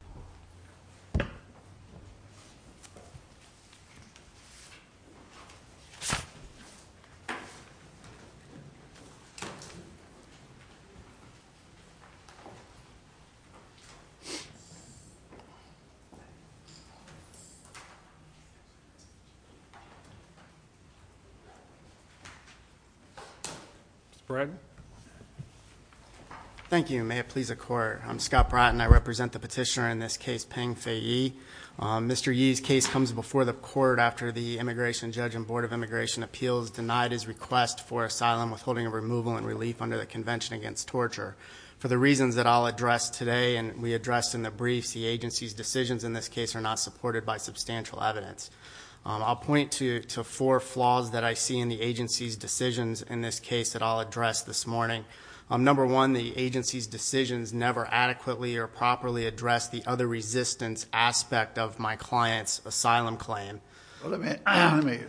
Mr. Bratton. Thank you. May it please the Court, I'm Scott Bratton. I represent the petitioner in this case, Peng Fei Ye. Mr. Ye's case comes before the Court after the Immigration Judge and Board of Immigration Appeals denied his request for asylum withholding of removal and relief under the Convention Against Torture. For the reasons that I'll address today and we addressed in the briefs, the agency's decisions in this case are not supported by substantial evidence. I'll point to four flaws that I see in the agency's decisions in this case that I'll address this morning. Number one, the agency's decisions never adequately or properly address the other resistance aspect of my client's asylum claim. Let me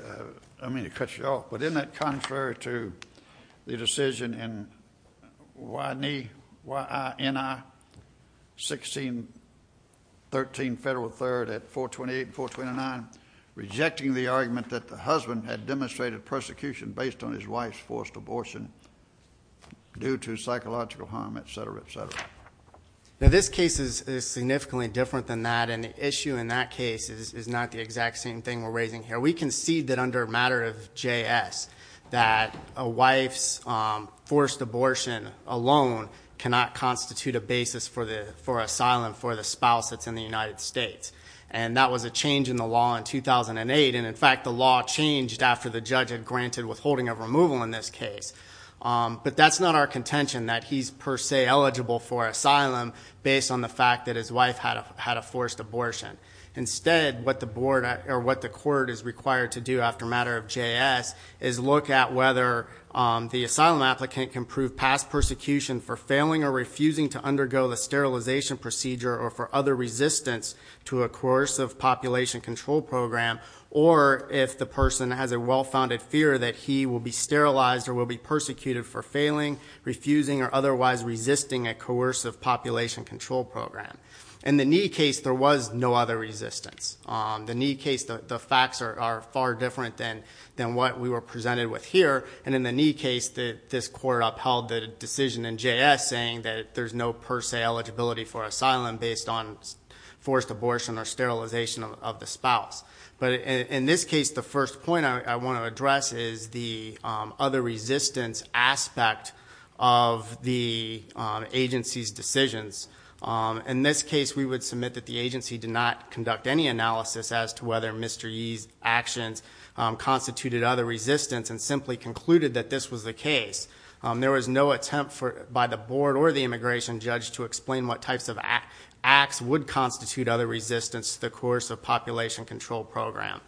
cut you off, but isn't that contrary to the decision in YNI 1613 Federal 3rd at 428 and 429, rejecting the argument that the husband had demonstrated persecution based on his wife's forced abortion due to psychological harm, et cetera, et cetera? This case is significantly different than that, and the issue in that case is not the exact same thing we're raising here. We concede that under a matter of JS, that a wife's forced abortion alone cannot constitute a basis for asylum for the spouse that's in the United States. And that was a change in the law in 2008, and in fact, the law changed after the judge had granted withholding of removal in this case. But that's not our contention that he's per se eligible for asylum based on the fact that his wife had a forced abortion. Instead, what the court is required to do after a matter of JS is look at whether the asylum applicant can prove past persecution for failing or refusing to undergo the sterilization procedure or for other resistance to a coercive population control program, or if the person has a well-founded fear that he will be sterilized or will be persecuted for failing, refusing, or otherwise resisting a coercive population control program. In the Nee case, there was no other resistance. The Nee case, the facts are far different than what we were presented with here, and in the Nee case, this court upheld the decision in JS saying that there's no per se eligibility for asylum based on forced abortion or sterilization of the spouse. But in this case, the first point I want to address is the other resistance aspect of the agency's decisions. In this case, we would submit that the agency did not conduct any analysis as to whether Mr. Yee's actions constituted other resistance and simply concluded that this was the case. There was no attempt by the board or the immigration judge to explain what types of acts would constitute other resistance to the coercive population control program.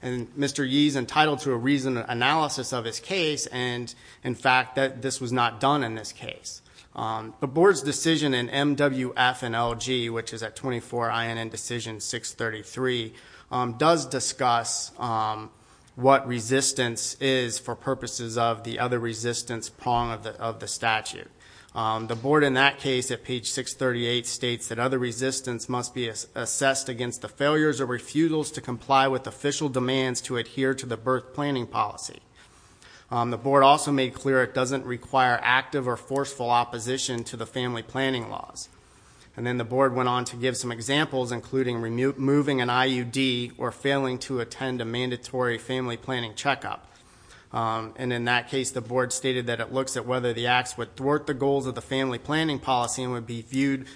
And Mr. Yee's entitled to a reasoned analysis of his case, and in fact, that this was not done in this case. The board's decision in MWF and LG, which is at 24 INN decision 633, does discuss what resistance is for purposes of the other resistance prong of the statute. The board in that case at page 638 states that other resistance must be assessed against the failures or refutals to comply with official demands to adhere to the birth planning policy. The board also made clear it doesn't require active or forceful opposition to the family planning laws. And then the board went on to give some examples, including removing an IUD or failing to attend a mandatory family planning checkup. And in that case, the board stated that it looks at whether the acts would thwart the goals of the family planning policy and would be viewed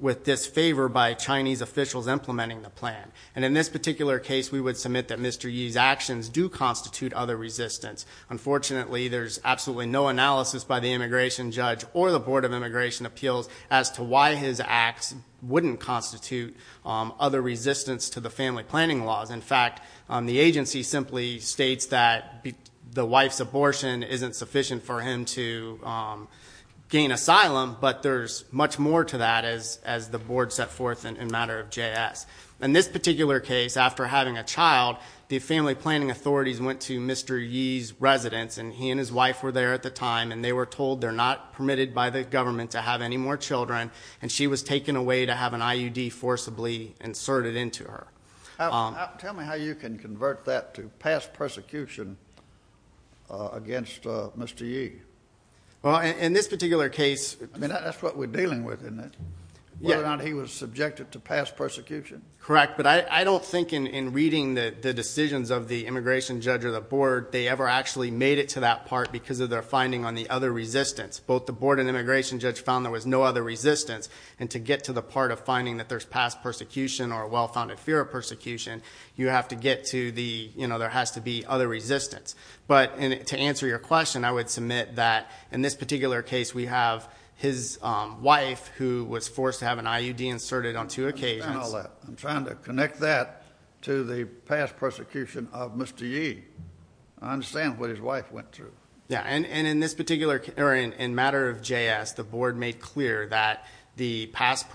with disfavor by Chinese officials implementing the plan. And in this particular case, we would submit that Mr. Yee's actions do constitute other resistance. Unfortunately, there's absolutely no analysis by the immigration judge or the board of immigration appeals as to why his acts wouldn't constitute other resistance to the family planning laws. In fact, the agency simply states that the wife's abortion isn't sufficient for him to gain asylum, but there's much more to that as the board set forth in matter of JS. In this particular case, after having a child, the family planning authorities went to Mr. Yee's residence, and he and his wife were there at the time, and they were told they're not permitted by the government to have any more children. And she was taken away to have an IUD forcibly inserted into her. Tell me how you can convert that to past persecution against Mr. Yee. Well, in this particular case- I mean, that's what we're dealing with, isn't it? Whether or not he was subjected to past persecution? Correct, but I don't think in reading the decisions of the immigration judge or the board, they ever actually made it to that part because of their finding on the other resistance. Both the board and immigration judge found there was no other resistance. And to get to the part of finding that there's past persecution or a well-founded fear of persecution, you have to get to the, you know, there has to be other resistance. But to answer your question, I would submit that in this particular case, we have his wife, who was forced to have an IUD inserted on two occasions. I understand all that. I'm trying to connect that to the past persecution of Mr. Yee. I understand what his wife went through. Yeah, and in this particular, or in matter of JS, the board made clear that the past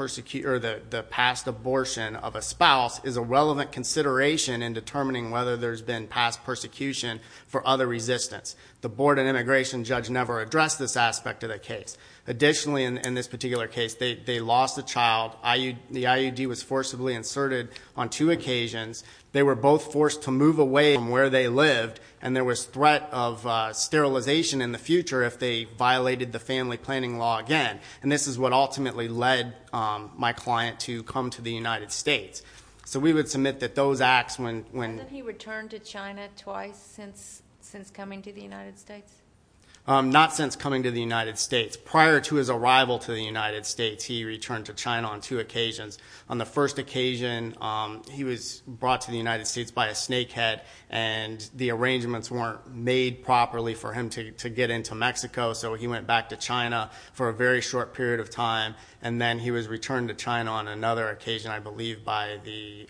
abortion of a spouse is a relevant consideration in determining whether there's been past persecution for other resistance. The board and immigration judge never addressed this aspect of the case. Additionally, in this particular case, they lost a child, the IUD was forcibly inserted on two occasions. They were both forced to move away from where they lived, and there was threat of sterilization in the future if they violated the family planning law again. And this is what ultimately led my client to come to the United States. So we would submit that those acts when- Hadn't he returned to China twice since coming to the United States? Not since coming to the United States. Prior to his arrival to the United States, he returned to China on two occasions. On the first occasion, he was brought to the United States by a snakehead, and the arrangements weren't made properly for him to get into Mexico, so he went back to China for a very short period of time. And then he was returned to China on another occasion, I believe, by the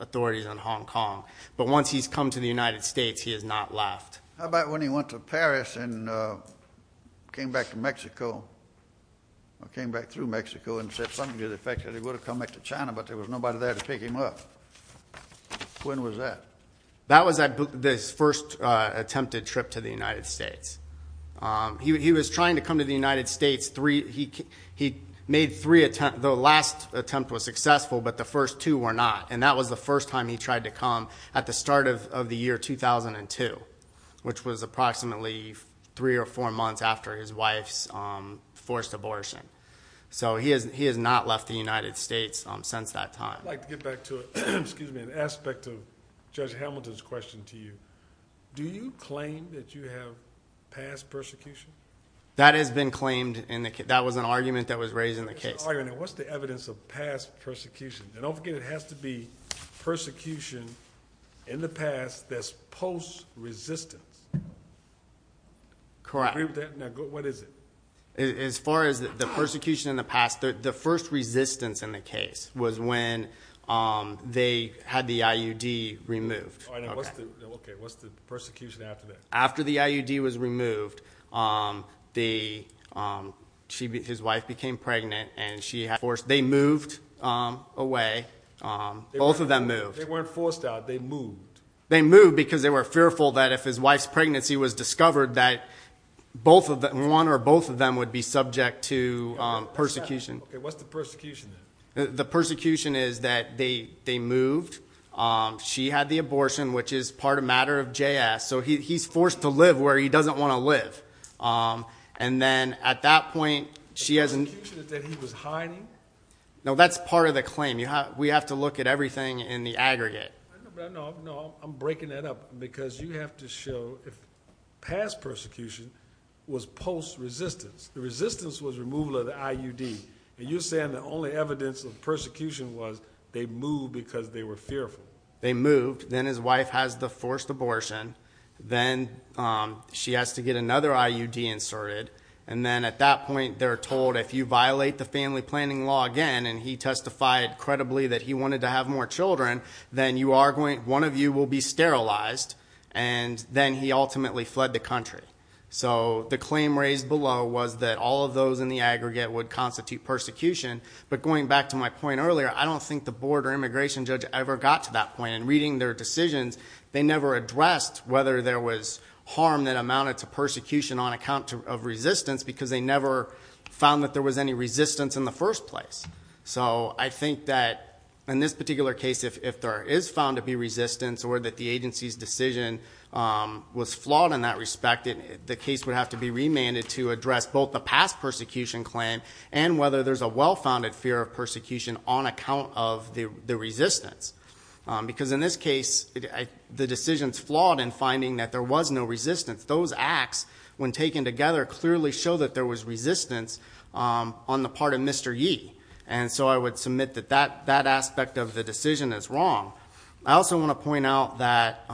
authorities in Hong Kong. But once he's come to the United States, he has not left. How about when he went to Paris and came back to Mexico, or came back to China, but there was nobody there to pick him up? When was that? That was his first attempted trip to the United States. He was trying to come to the United States three, he made three attempts. The last attempt was successful, but the first two were not. And that was the first time he tried to come at the start of the year 2002, which was approximately three or four months after his wife's forced abortion. So he has not left the United States since that time. I'd like to get back to an aspect of Judge Hamilton's question to you. Do you claim that you have past persecution? That has been claimed in the, that was an argument that was raised in the case. What's the evidence of past persecution? And don't forget, it has to be persecution in the past that's post-resistance. Correct. Do you agree with that? What is it? As far as the persecution in the past, the first resistance in the case was when they had the IUD removed. Okay, what's the persecution after that? After the IUD was removed, his wife became pregnant and she had forced, they moved away. Both of them moved. They weren't forced out, they moved. They moved because they were fearful that if his wife's pregnancy was discovered that one or both of them would be subject to persecution. Okay, what's the persecution then? The persecution is that they moved. She had the abortion, which is part of matter of JS. So he's forced to live where he doesn't want to live. And then at that point, she has- The persecution is that he was hiding? No, that's part of the claim. We have to look at everything in the aggregate. No, I'm breaking that up because you have to show if past persecution was post-resistance. The resistance was removal of the IUD. You're saying the only evidence of persecution was they moved because they were fearful. They moved, then his wife has the forced abortion. Then she has to get another IUD inserted. And then at that point, they're told if you violate the family planning law again, and he testified credibly that he wanted to have more children, then one of you will be sterilized. And then he ultimately fled the country. So the claim raised below was that all of those in the aggregate would constitute persecution. But going back to my point earlier, I don't think the board or immigration judge ever got to that point. In reading their decisions, they never addressed whether there was harm that amounted to persecution on account of resistance because they never found that there was any resistance in the first place. I think that in this particular case, if there is found to be resistance or that the agency's decision was flawed in that respect, the case would have to be remanded to address both the past persecution claim and whether there's a well-founded fear of persecution on account of the resistance. Because in this case, the decision's flawed in finding that there was no resistance. Those acts, when taken together, clearly show that there was resistance on the part of Mr. Yee. And so I would submit that that aspect of the decision is wrong. I also want to point out that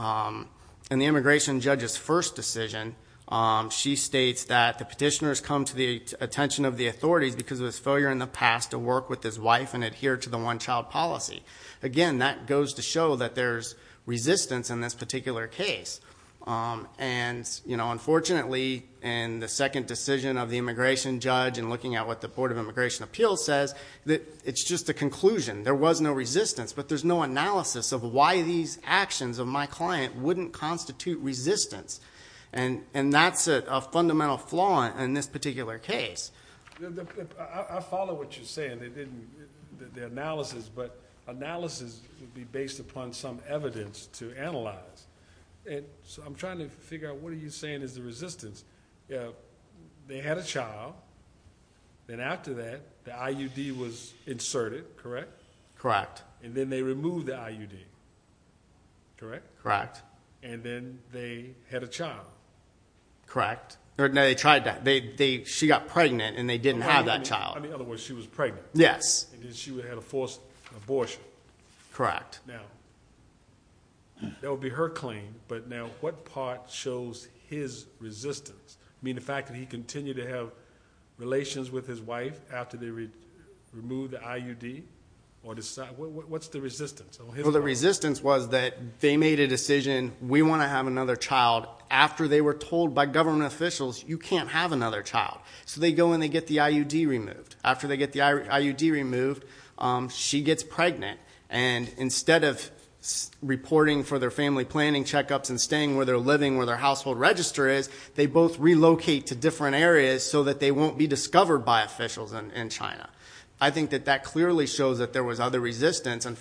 in the immigration judge's first decision, she states that the petitioners come to the attention of the authorities because of his failure in the past to work with his wife and adhere to the one-child policy. Again, that goes to show that there's resistance in this particular case. And unfortunately, in the second decision of the immigration judge, in looking at what the Board of Immigration Appeals says, that it's just a conclusion. There was no resistance, but there's no analysis of why these actions of my client wouldn't constitute resistance. And that's a fundamental flaw in this particular case. I follow what you're saying, the analysis. But analysis would be based upon some evidence to analyze. And so I'm trying to figure out, what are you saying is the resistance? They had a child, then after that, the IUD was inserted, correct? Correct. And then they removed the IUD, correct? Correct. And then they had a child. Correct. Or no, they tried to, she got pregnant and they didn't have that child. In other words, she was pregnant. Yes. And then she had a forced abortion. Correct. Now, that would be her claim. But now, what part shows his resistance? I mean, the fact that he continued to have relations with his wife after they removed the IUD? Or what's the resistance? Well, the resistance was that they made a decision, we want to have another child, after they were told by government officials, you can't have another child. So they go and they get the IUD removed. After they get the IUD removed, she gets pregnant. And instead of reporting for their family planning checkups and staying where they're living, where their household register is, they both relocate to different areas so that they won't be discovered by officials in China. I think that that clearly shows that there was other resistance. And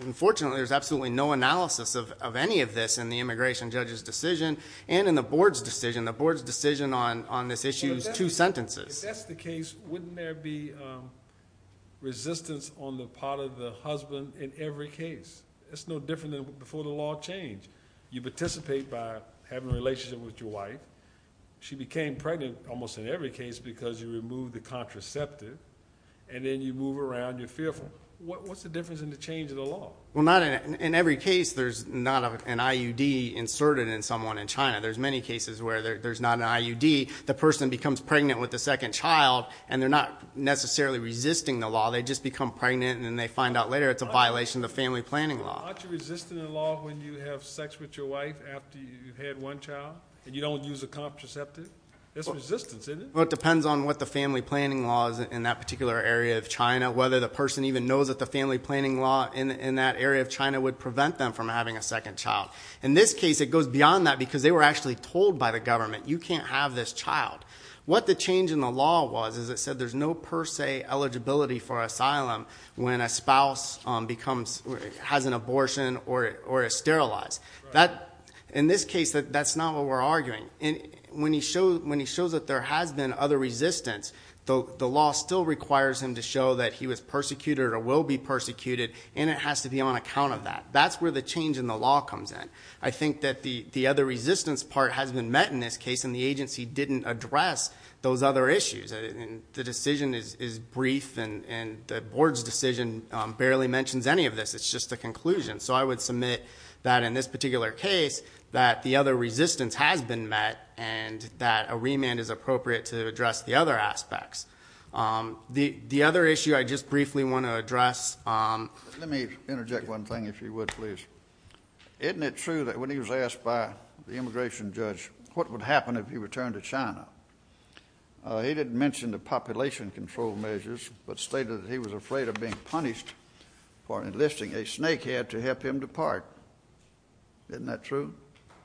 unfortunately, there's absolutely no analysis of any of this in the immigration judge's decision and in the board's decision, the board's decision on this issue is two sentences. If that's the case, wouldn't there be resistance on the part of the husband in every case? It's no different than before the law changed. You participate by having a relationship with your wife. She became pregnant almost in every case because you removed the contraceptive. And then you move around, you're fearful. What's the difference in the change of the law? Well, not in every case, there's not an IUD inserted in someone in China. There's many cases where there's not an IUD. The person becomes pregnant with the second child, and they're not necessarily resisting the law. They just become pregnant, and then they find out later it's a violation of the family planning law. Aren't you resisting the law when you have sex with your wife after you've had one child, and you don't use a contraceptive? That's resistance, isn't it? Well, it depends on what the family planning law is in that particular area of China, whether the person even knows that the family planning law in that area of China would prevent them from having a second child. In this case, it goes beyond that because they were actually told by the government, you can't have this child, what the change in the law was is it said there's no per se eligibility for asylum when a spouse has an abortion or is sterilized. In this case, that's not what we're arguing. And when he shows that there has been other resistance, the law still requires him to show that he was persecuted or will be persecuted, and it has to be on account of that. That's where the change in the law comes in. I think that the other resistance part has been met in this case, and the agency didn't address those other issues. The decision is brief, and the board's decision barely mentions any of this. It's just a conclusion. So I would submit that in this particular case, that the other resistance has been met, and that a remand is appropriate to address the other aspects. The other issue I just briefly want to address- Let me interject one thing, if you would, please. Isn't it true that when he was asked by the immigration judge, what would happen if he returned to China? He didn't mention the population control measures, but stated that he was afraid of being punished for enlisting a snake head to help him depart, isn't that true?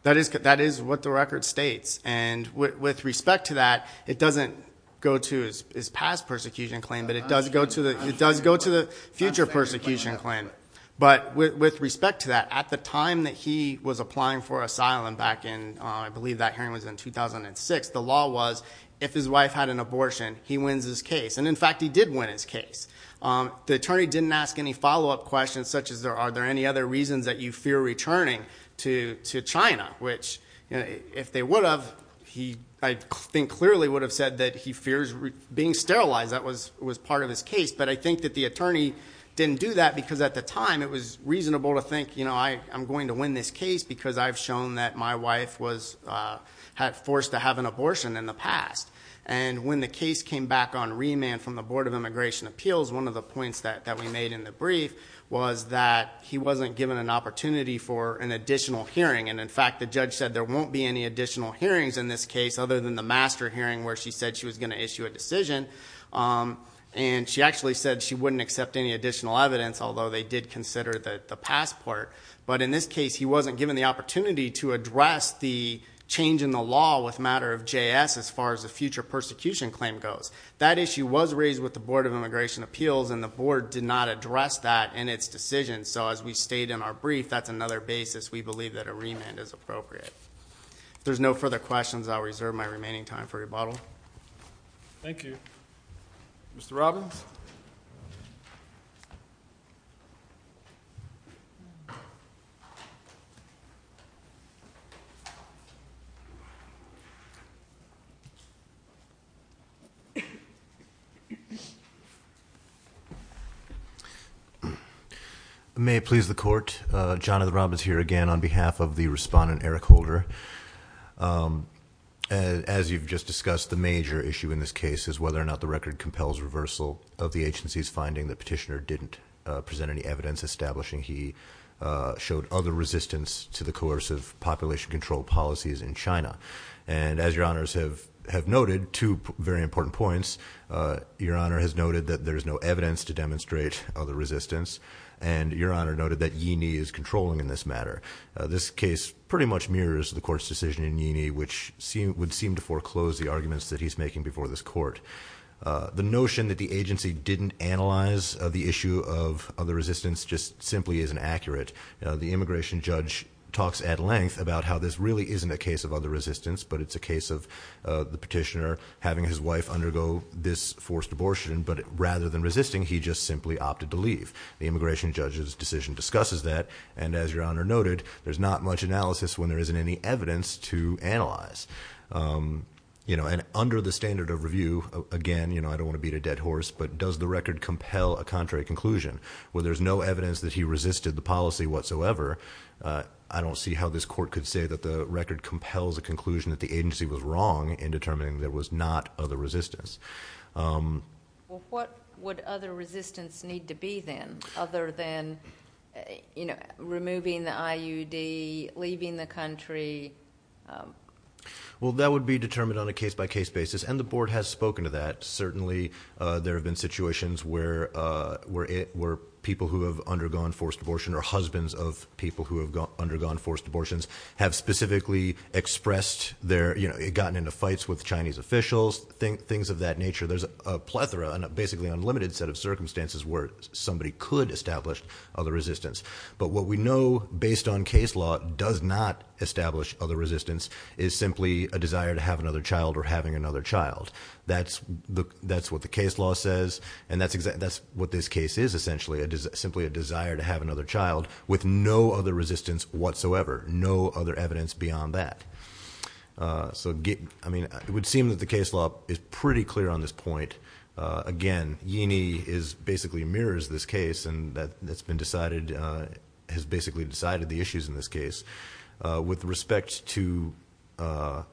That is what the record states, and with respect to that, it doesn't go to his past persecution claim, but it does go to the future persecution claim. But with respect to that, at the time that he was applying for asylum back in, I believe that hearing was in 2006, the law was, if his wife had an abortion, he wins his case. And in fact, he did win his case. The attorney didn't ask any follow-up questions, such as, are there any other reasons that you fear returning to China? Which, if they would have, I think clearly would have said that he fears being sterilized, that was part of his case. But I think that the attorney didn't do that, because at the time, it was reasonable to think I'm going to win this case, because I've shown that my wife was forced to have an abortion in the past. And when the case came back on remand from the Board of Immigration Appeals, one of the points that we made in the brief was that he wasn't given an opportunity for an additional hearing. And in fact, the judge said there won't be any additional hearings in this case, other than the master hearing, where she said she was going to issue a decision. And she actually said she wouldn't accept any additional evidence, although they did consider the passport. But in this case, he wasn't given the opportunity to address the change in the law with matter of JS, as far as the future persecution claim goes. That issue was raised with the Board of Immigration Appeals, and the board did not address that in its decision. So as we state in our brief, that's another basis we believe that a remand is appropriate. If there's no further questions, I'll reserve my remaining time for rebuttal. Thank you. Mr. Robbins? May it please the court, Johnathan Robbins here again on behalf of the respondent, Eric Holder. As you've just discussed, the major issue in this case is whether or not the record compels reversal of the agency's finding that Petitioner didn't present any evidence establishing he showed other resistance to the coercive population control policies in China. And as your honors have noted, two very important points. Your honor has noted that there's no evidence to demonstrate other resistance. And your honor noted that Yee Nee is controlling in this matter. This case pretty much mirrors the court's decision in Yee Nee, which would seem to foreclose the arguments that he's making before this court. The notion that the agency didn't analyze the issue of other resistance just simply isn't accurate. The immigration judge talks at length about how this really isn't a case of other resistance, but it's a case of the petitioner having his wife undergo this forced abortion. The immigration judge's decision discusses that. And as your honor noted, there's not much analysis when there isn't any evidence to analyze. And under the standard of review, again, I don't want to beat a dead horse, but does the record compel a contrary conclusion? Where there's no evidence that he resisted the policy whatsoever, I don't see how this court could say that the record compels a conclusion that the agency was wrong in determining there was not other resistance. Well, what would other resistance need to be then, other than removing the IUD, leaving the country? Well, that would be determined on a case by case basis, and the board has spoken to that. Certainly, there have been situations where people who have undergone forced abortion or husbands of people who have undergone forced abortions have specifically expressed their, gotten into fights with Chinese officials, things of that nature. There's a plethora and basically unlimited set of circumstances where somebody could establish other resistance. But what we know based on case law does not establish other resistance is simply a desire to have another child or having another child. That's what the case law says, and that's what this case is essentially. It is simply a desire to have another child with no other resistance whatsoever, no other evidence beyond that. So, I mean, it would seem that the case law is pretty clear on this point. Again, Yee is basically mirrors this case, and that's been decided, has basically decided the issues in this case with respect to, I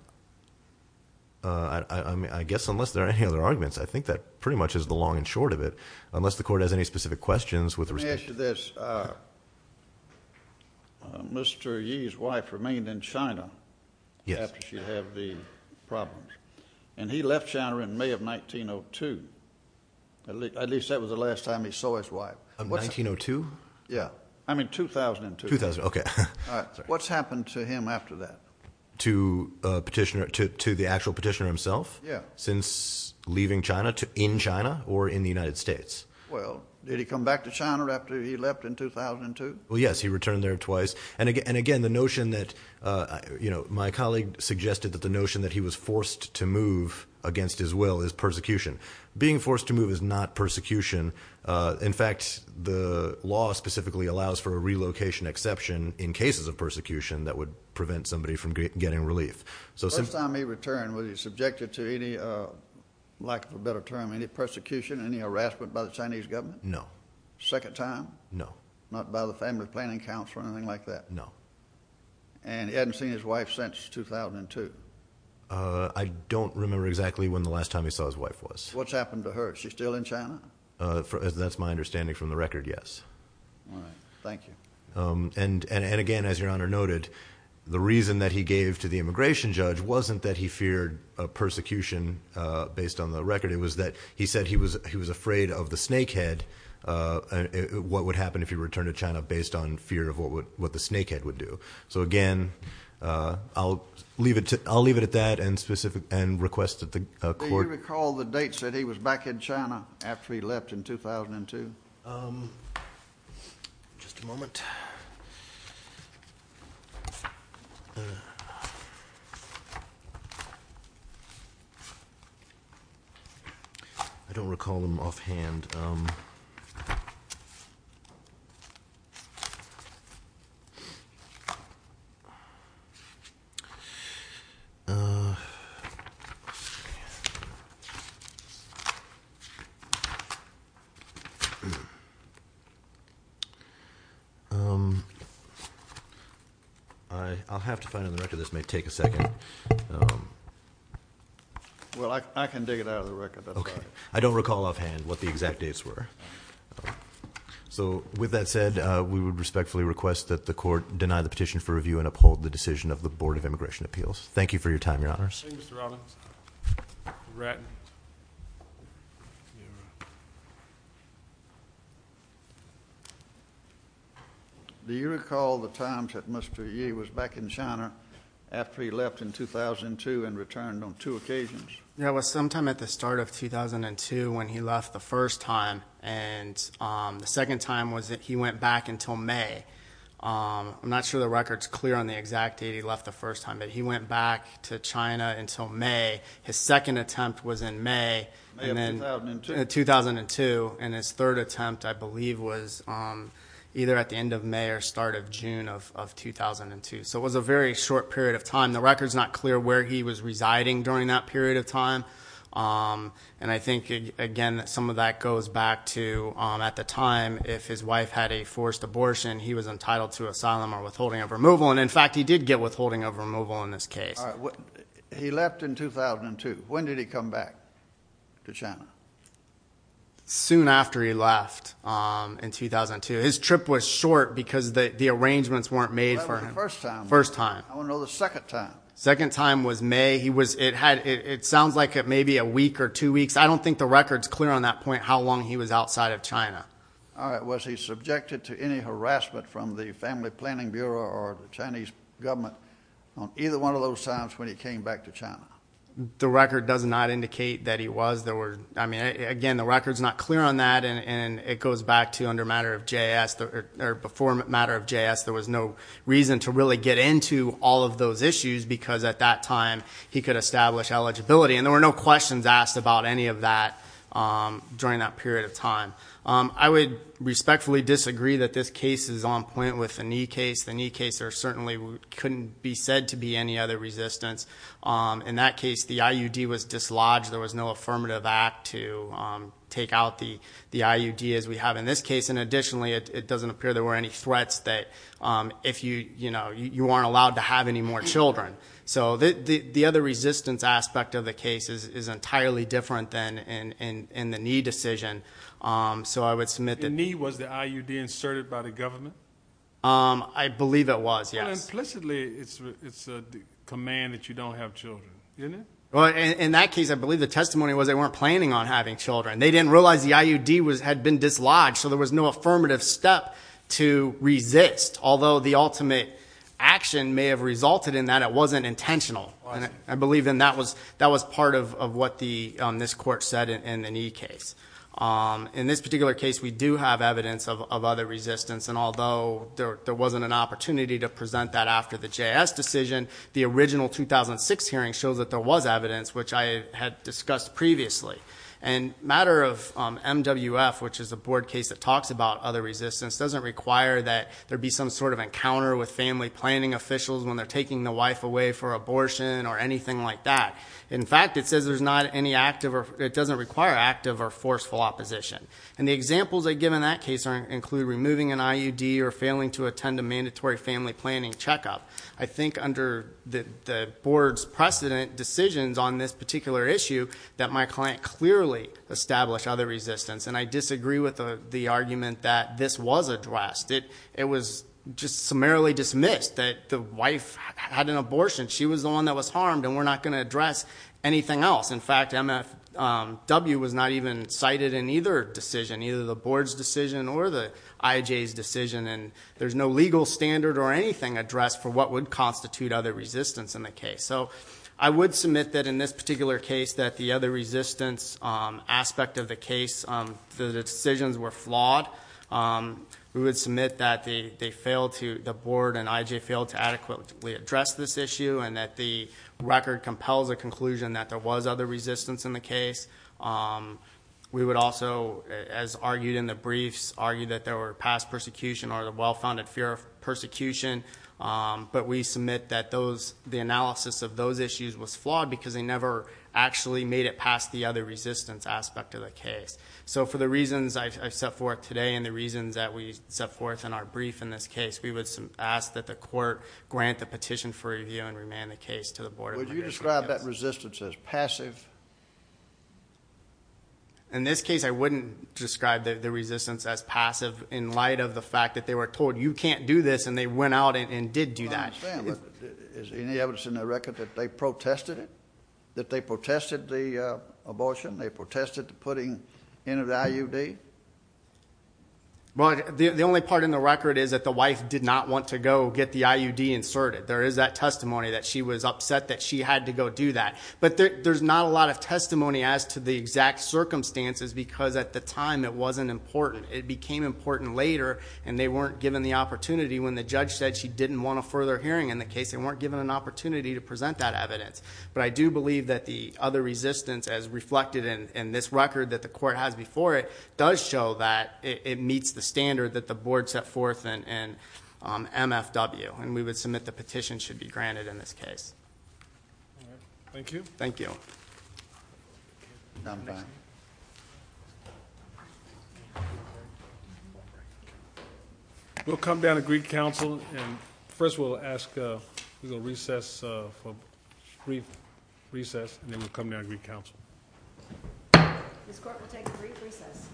guess unless there are any other arguments, I think that pretty much is the long and short of it. Unless the court has any specific questions with respect to this. Mr. Yee's wife remained in China after she had the problem, and he left China in May of 1902. At least that was the last time he saw his wife. 1902? Yeah. I mean, 2002. 2000, okay. What's happened to him after that? To petitioner, to the actual petitioner himself? Yeah. Since leaving China, in China or in the United States? Well, did he come back to China after he left in 2002? Well, yes. He returned there twice. And again, the notion that, you know, my colleague suggested that the notion that he was forced to move against his will is persecution. Being forced to move is not persecution. In fact, the law specifically allows for a relocation exception in cases of persecution that would prevent somebody from getting relief. The first time he returned, was he subjected to any, lack of a better term, any persecution, any harassment by the Chinese government? No. Second time? No. Not by the Family Planning Council or anything like that? No. And he hadn't seen his wife since 2002? I don't remember exactly when the last time he saw his wife was. What's happened to her? Is she still in China? That's my understanding from the record, yes. All right. Thank you. And again, as Your Honor noted, the reason that he gave to the immigration judge wasn't that he feared persecution based on the record. It was that he said he was afraid of the snake head, what would happen if he returned to China based on fear of what the snake head would do. So again, I'll leave it at that and request that the court- Do you recall the dates that he was back in China after he left in 2002? Just a moment. I don't recall them offhand. I'll have to find on the record, this may take a second. Well, I can dig it out of the record. That's fine. I don't recall offhand what the exact dates were. So with that said, we would respectfully request that the court deny the petition for review and uphold the decision of the Board of Immigration Appeals. Thank you for your time, Your Honors. Thank you, Mr. Robbins. Brett. Do you recall the times that Mr. Yee was back in China after he left in 2002 and returned on two occasions? Yeah, it was sometime at the start of 2002 when he left the first time, and the second time was that he went back until May. I'm not sure the record's clear on the exact date he left the first time, but he went back to China until May. His second attempt was in May. May of 2002. 2002, and his third attempt, I believe, was either at the end of May or start of June of 2002, so it was a very short period of time. The record's not clear where he was residing during that period of time, and I think, again, that some of that goes back to, at the time, if his wife had a forced abortion, he was entitled to asylum or withholding of removal, and, in fact, he did get withholding of removal in this case. All right. He left in 2002. When did he come back to China? Soon after he left in 2002. His trip was short because the arrangements weren't made for him. That was the first time. First time. I want to know the second time. Second time was May. It sounds like it may be a week or two weeks. I don't think the record's clear on that point, how long he was outside of China. All right. Was he subjected to any harassment from the Family Planning Bureau or the Chinese government on either one of those times when he came back to China? The record does not indicate that he was. I mean, again, the record's not clear on that, and it goes back to under matter of JS, or before matter of JS, there was no reason to really get into all of those issues because, at that time, he could establish eligibility, and there were no questions asked about any of that during that period of time. I would respectfully disagree that this case is on point with the Ni case. The Ni case, there certainly couldn't be said to be any other resistance. In that case, the IUD was dislodged. There was no affirmative act to take out the IUD, as we have in this case, and additionally, it doesn't appear there were any threats that you weren't allowed to have any more children. So the other resistance aspect of the case is entirely different than in the Ni decision, so I would submit that. In Ni, was the IUD inserted by the government? I believe it was, yes. Well, implicitly, it's a command that you don't have children, isn't it? Well, in that case, I believe the testimony was they weren't planning on having children. They didn't realize the IUD had been dislodged, so there was no affirmative step to resist, although the ultimate action may have resulted in that it wasn't intentional. I believe that was part of what this court said in the Ni case. In this particular case, we do have evidence of other resistance, and although there wasn't an opportunity to present that after the JS decision, the original 2006 hearing shows that there was evidence, which I had discussed previously. Matter of MWF, which is a board case that talks about other resistance, doesn't require that there be some sort of encounter with family planning officials when they're taking the wife away for abortion or anything like that. In fact, it says it doesn't require active or forceful opposition. The examples I give in that case include removing an IUD or failing to attend a mandatory family planning checkup. I think under the board's precedent decisions on this particular issue that my client clearly established other resistance, and I disagree with the argument that this was addressed. It was just summarily dismissed that the wife had an abortion. She was the one that was harmed, and we're not going to address anything else. In fact, MFW was not even cited in either decision, either the board's decision or the IJ's decision, and there's no legal standard or anything addressed for what would constitute other resistance in the case. So I would submit that in this particular case that the other resistance aspect of the case, the decisions were flawed. We would submit that the board and IJ failed to adequately address this issue and that the record compels a conclusion that there was other resistance in the case. We would also, as argued in the briefs, argue that there were past persecution or the well-founded fear of persecution, but we submit that the analysis of those issues was flawed because they never actually made it past the other resistance aspect of the case. So for the reasons I've set forth today and the reasons that we set forth in our brief in this case, we would ask that the court grant the petition for review and remand the case to the board. Would you describe that resistance as passive? In this case, I wouldn't describe the resistance as passive in light of the fact that they were told, you can't do this, and they went out and did do that. I understand, but is there any evidence in the record that they protested it, that they protested the abortion, they protested the putting in of the IUD? The only part in the record is that the wife did not want to go get the IUD inserted. There is that testimony that she was upset that she had to go do that, but there's not a lot of testimony as to the exact circumstances because at the time it wasn't important. It became important later, and they weren't given the opportunity. When the judge said she didn't want a further hearing in the case, they weren't given an opportunity to present that evidence. But I do believe that the other resistance as reflected in this record that the court has before it does show that it meets the standard that the board set forth in MFW, and we would submit the petition should be granted in this case. Thank you. Thank you. We'll come down to Greek Council, and first we'll ask for a brief recess, and then we'll come down to Greek Council. This court will take a brief recess.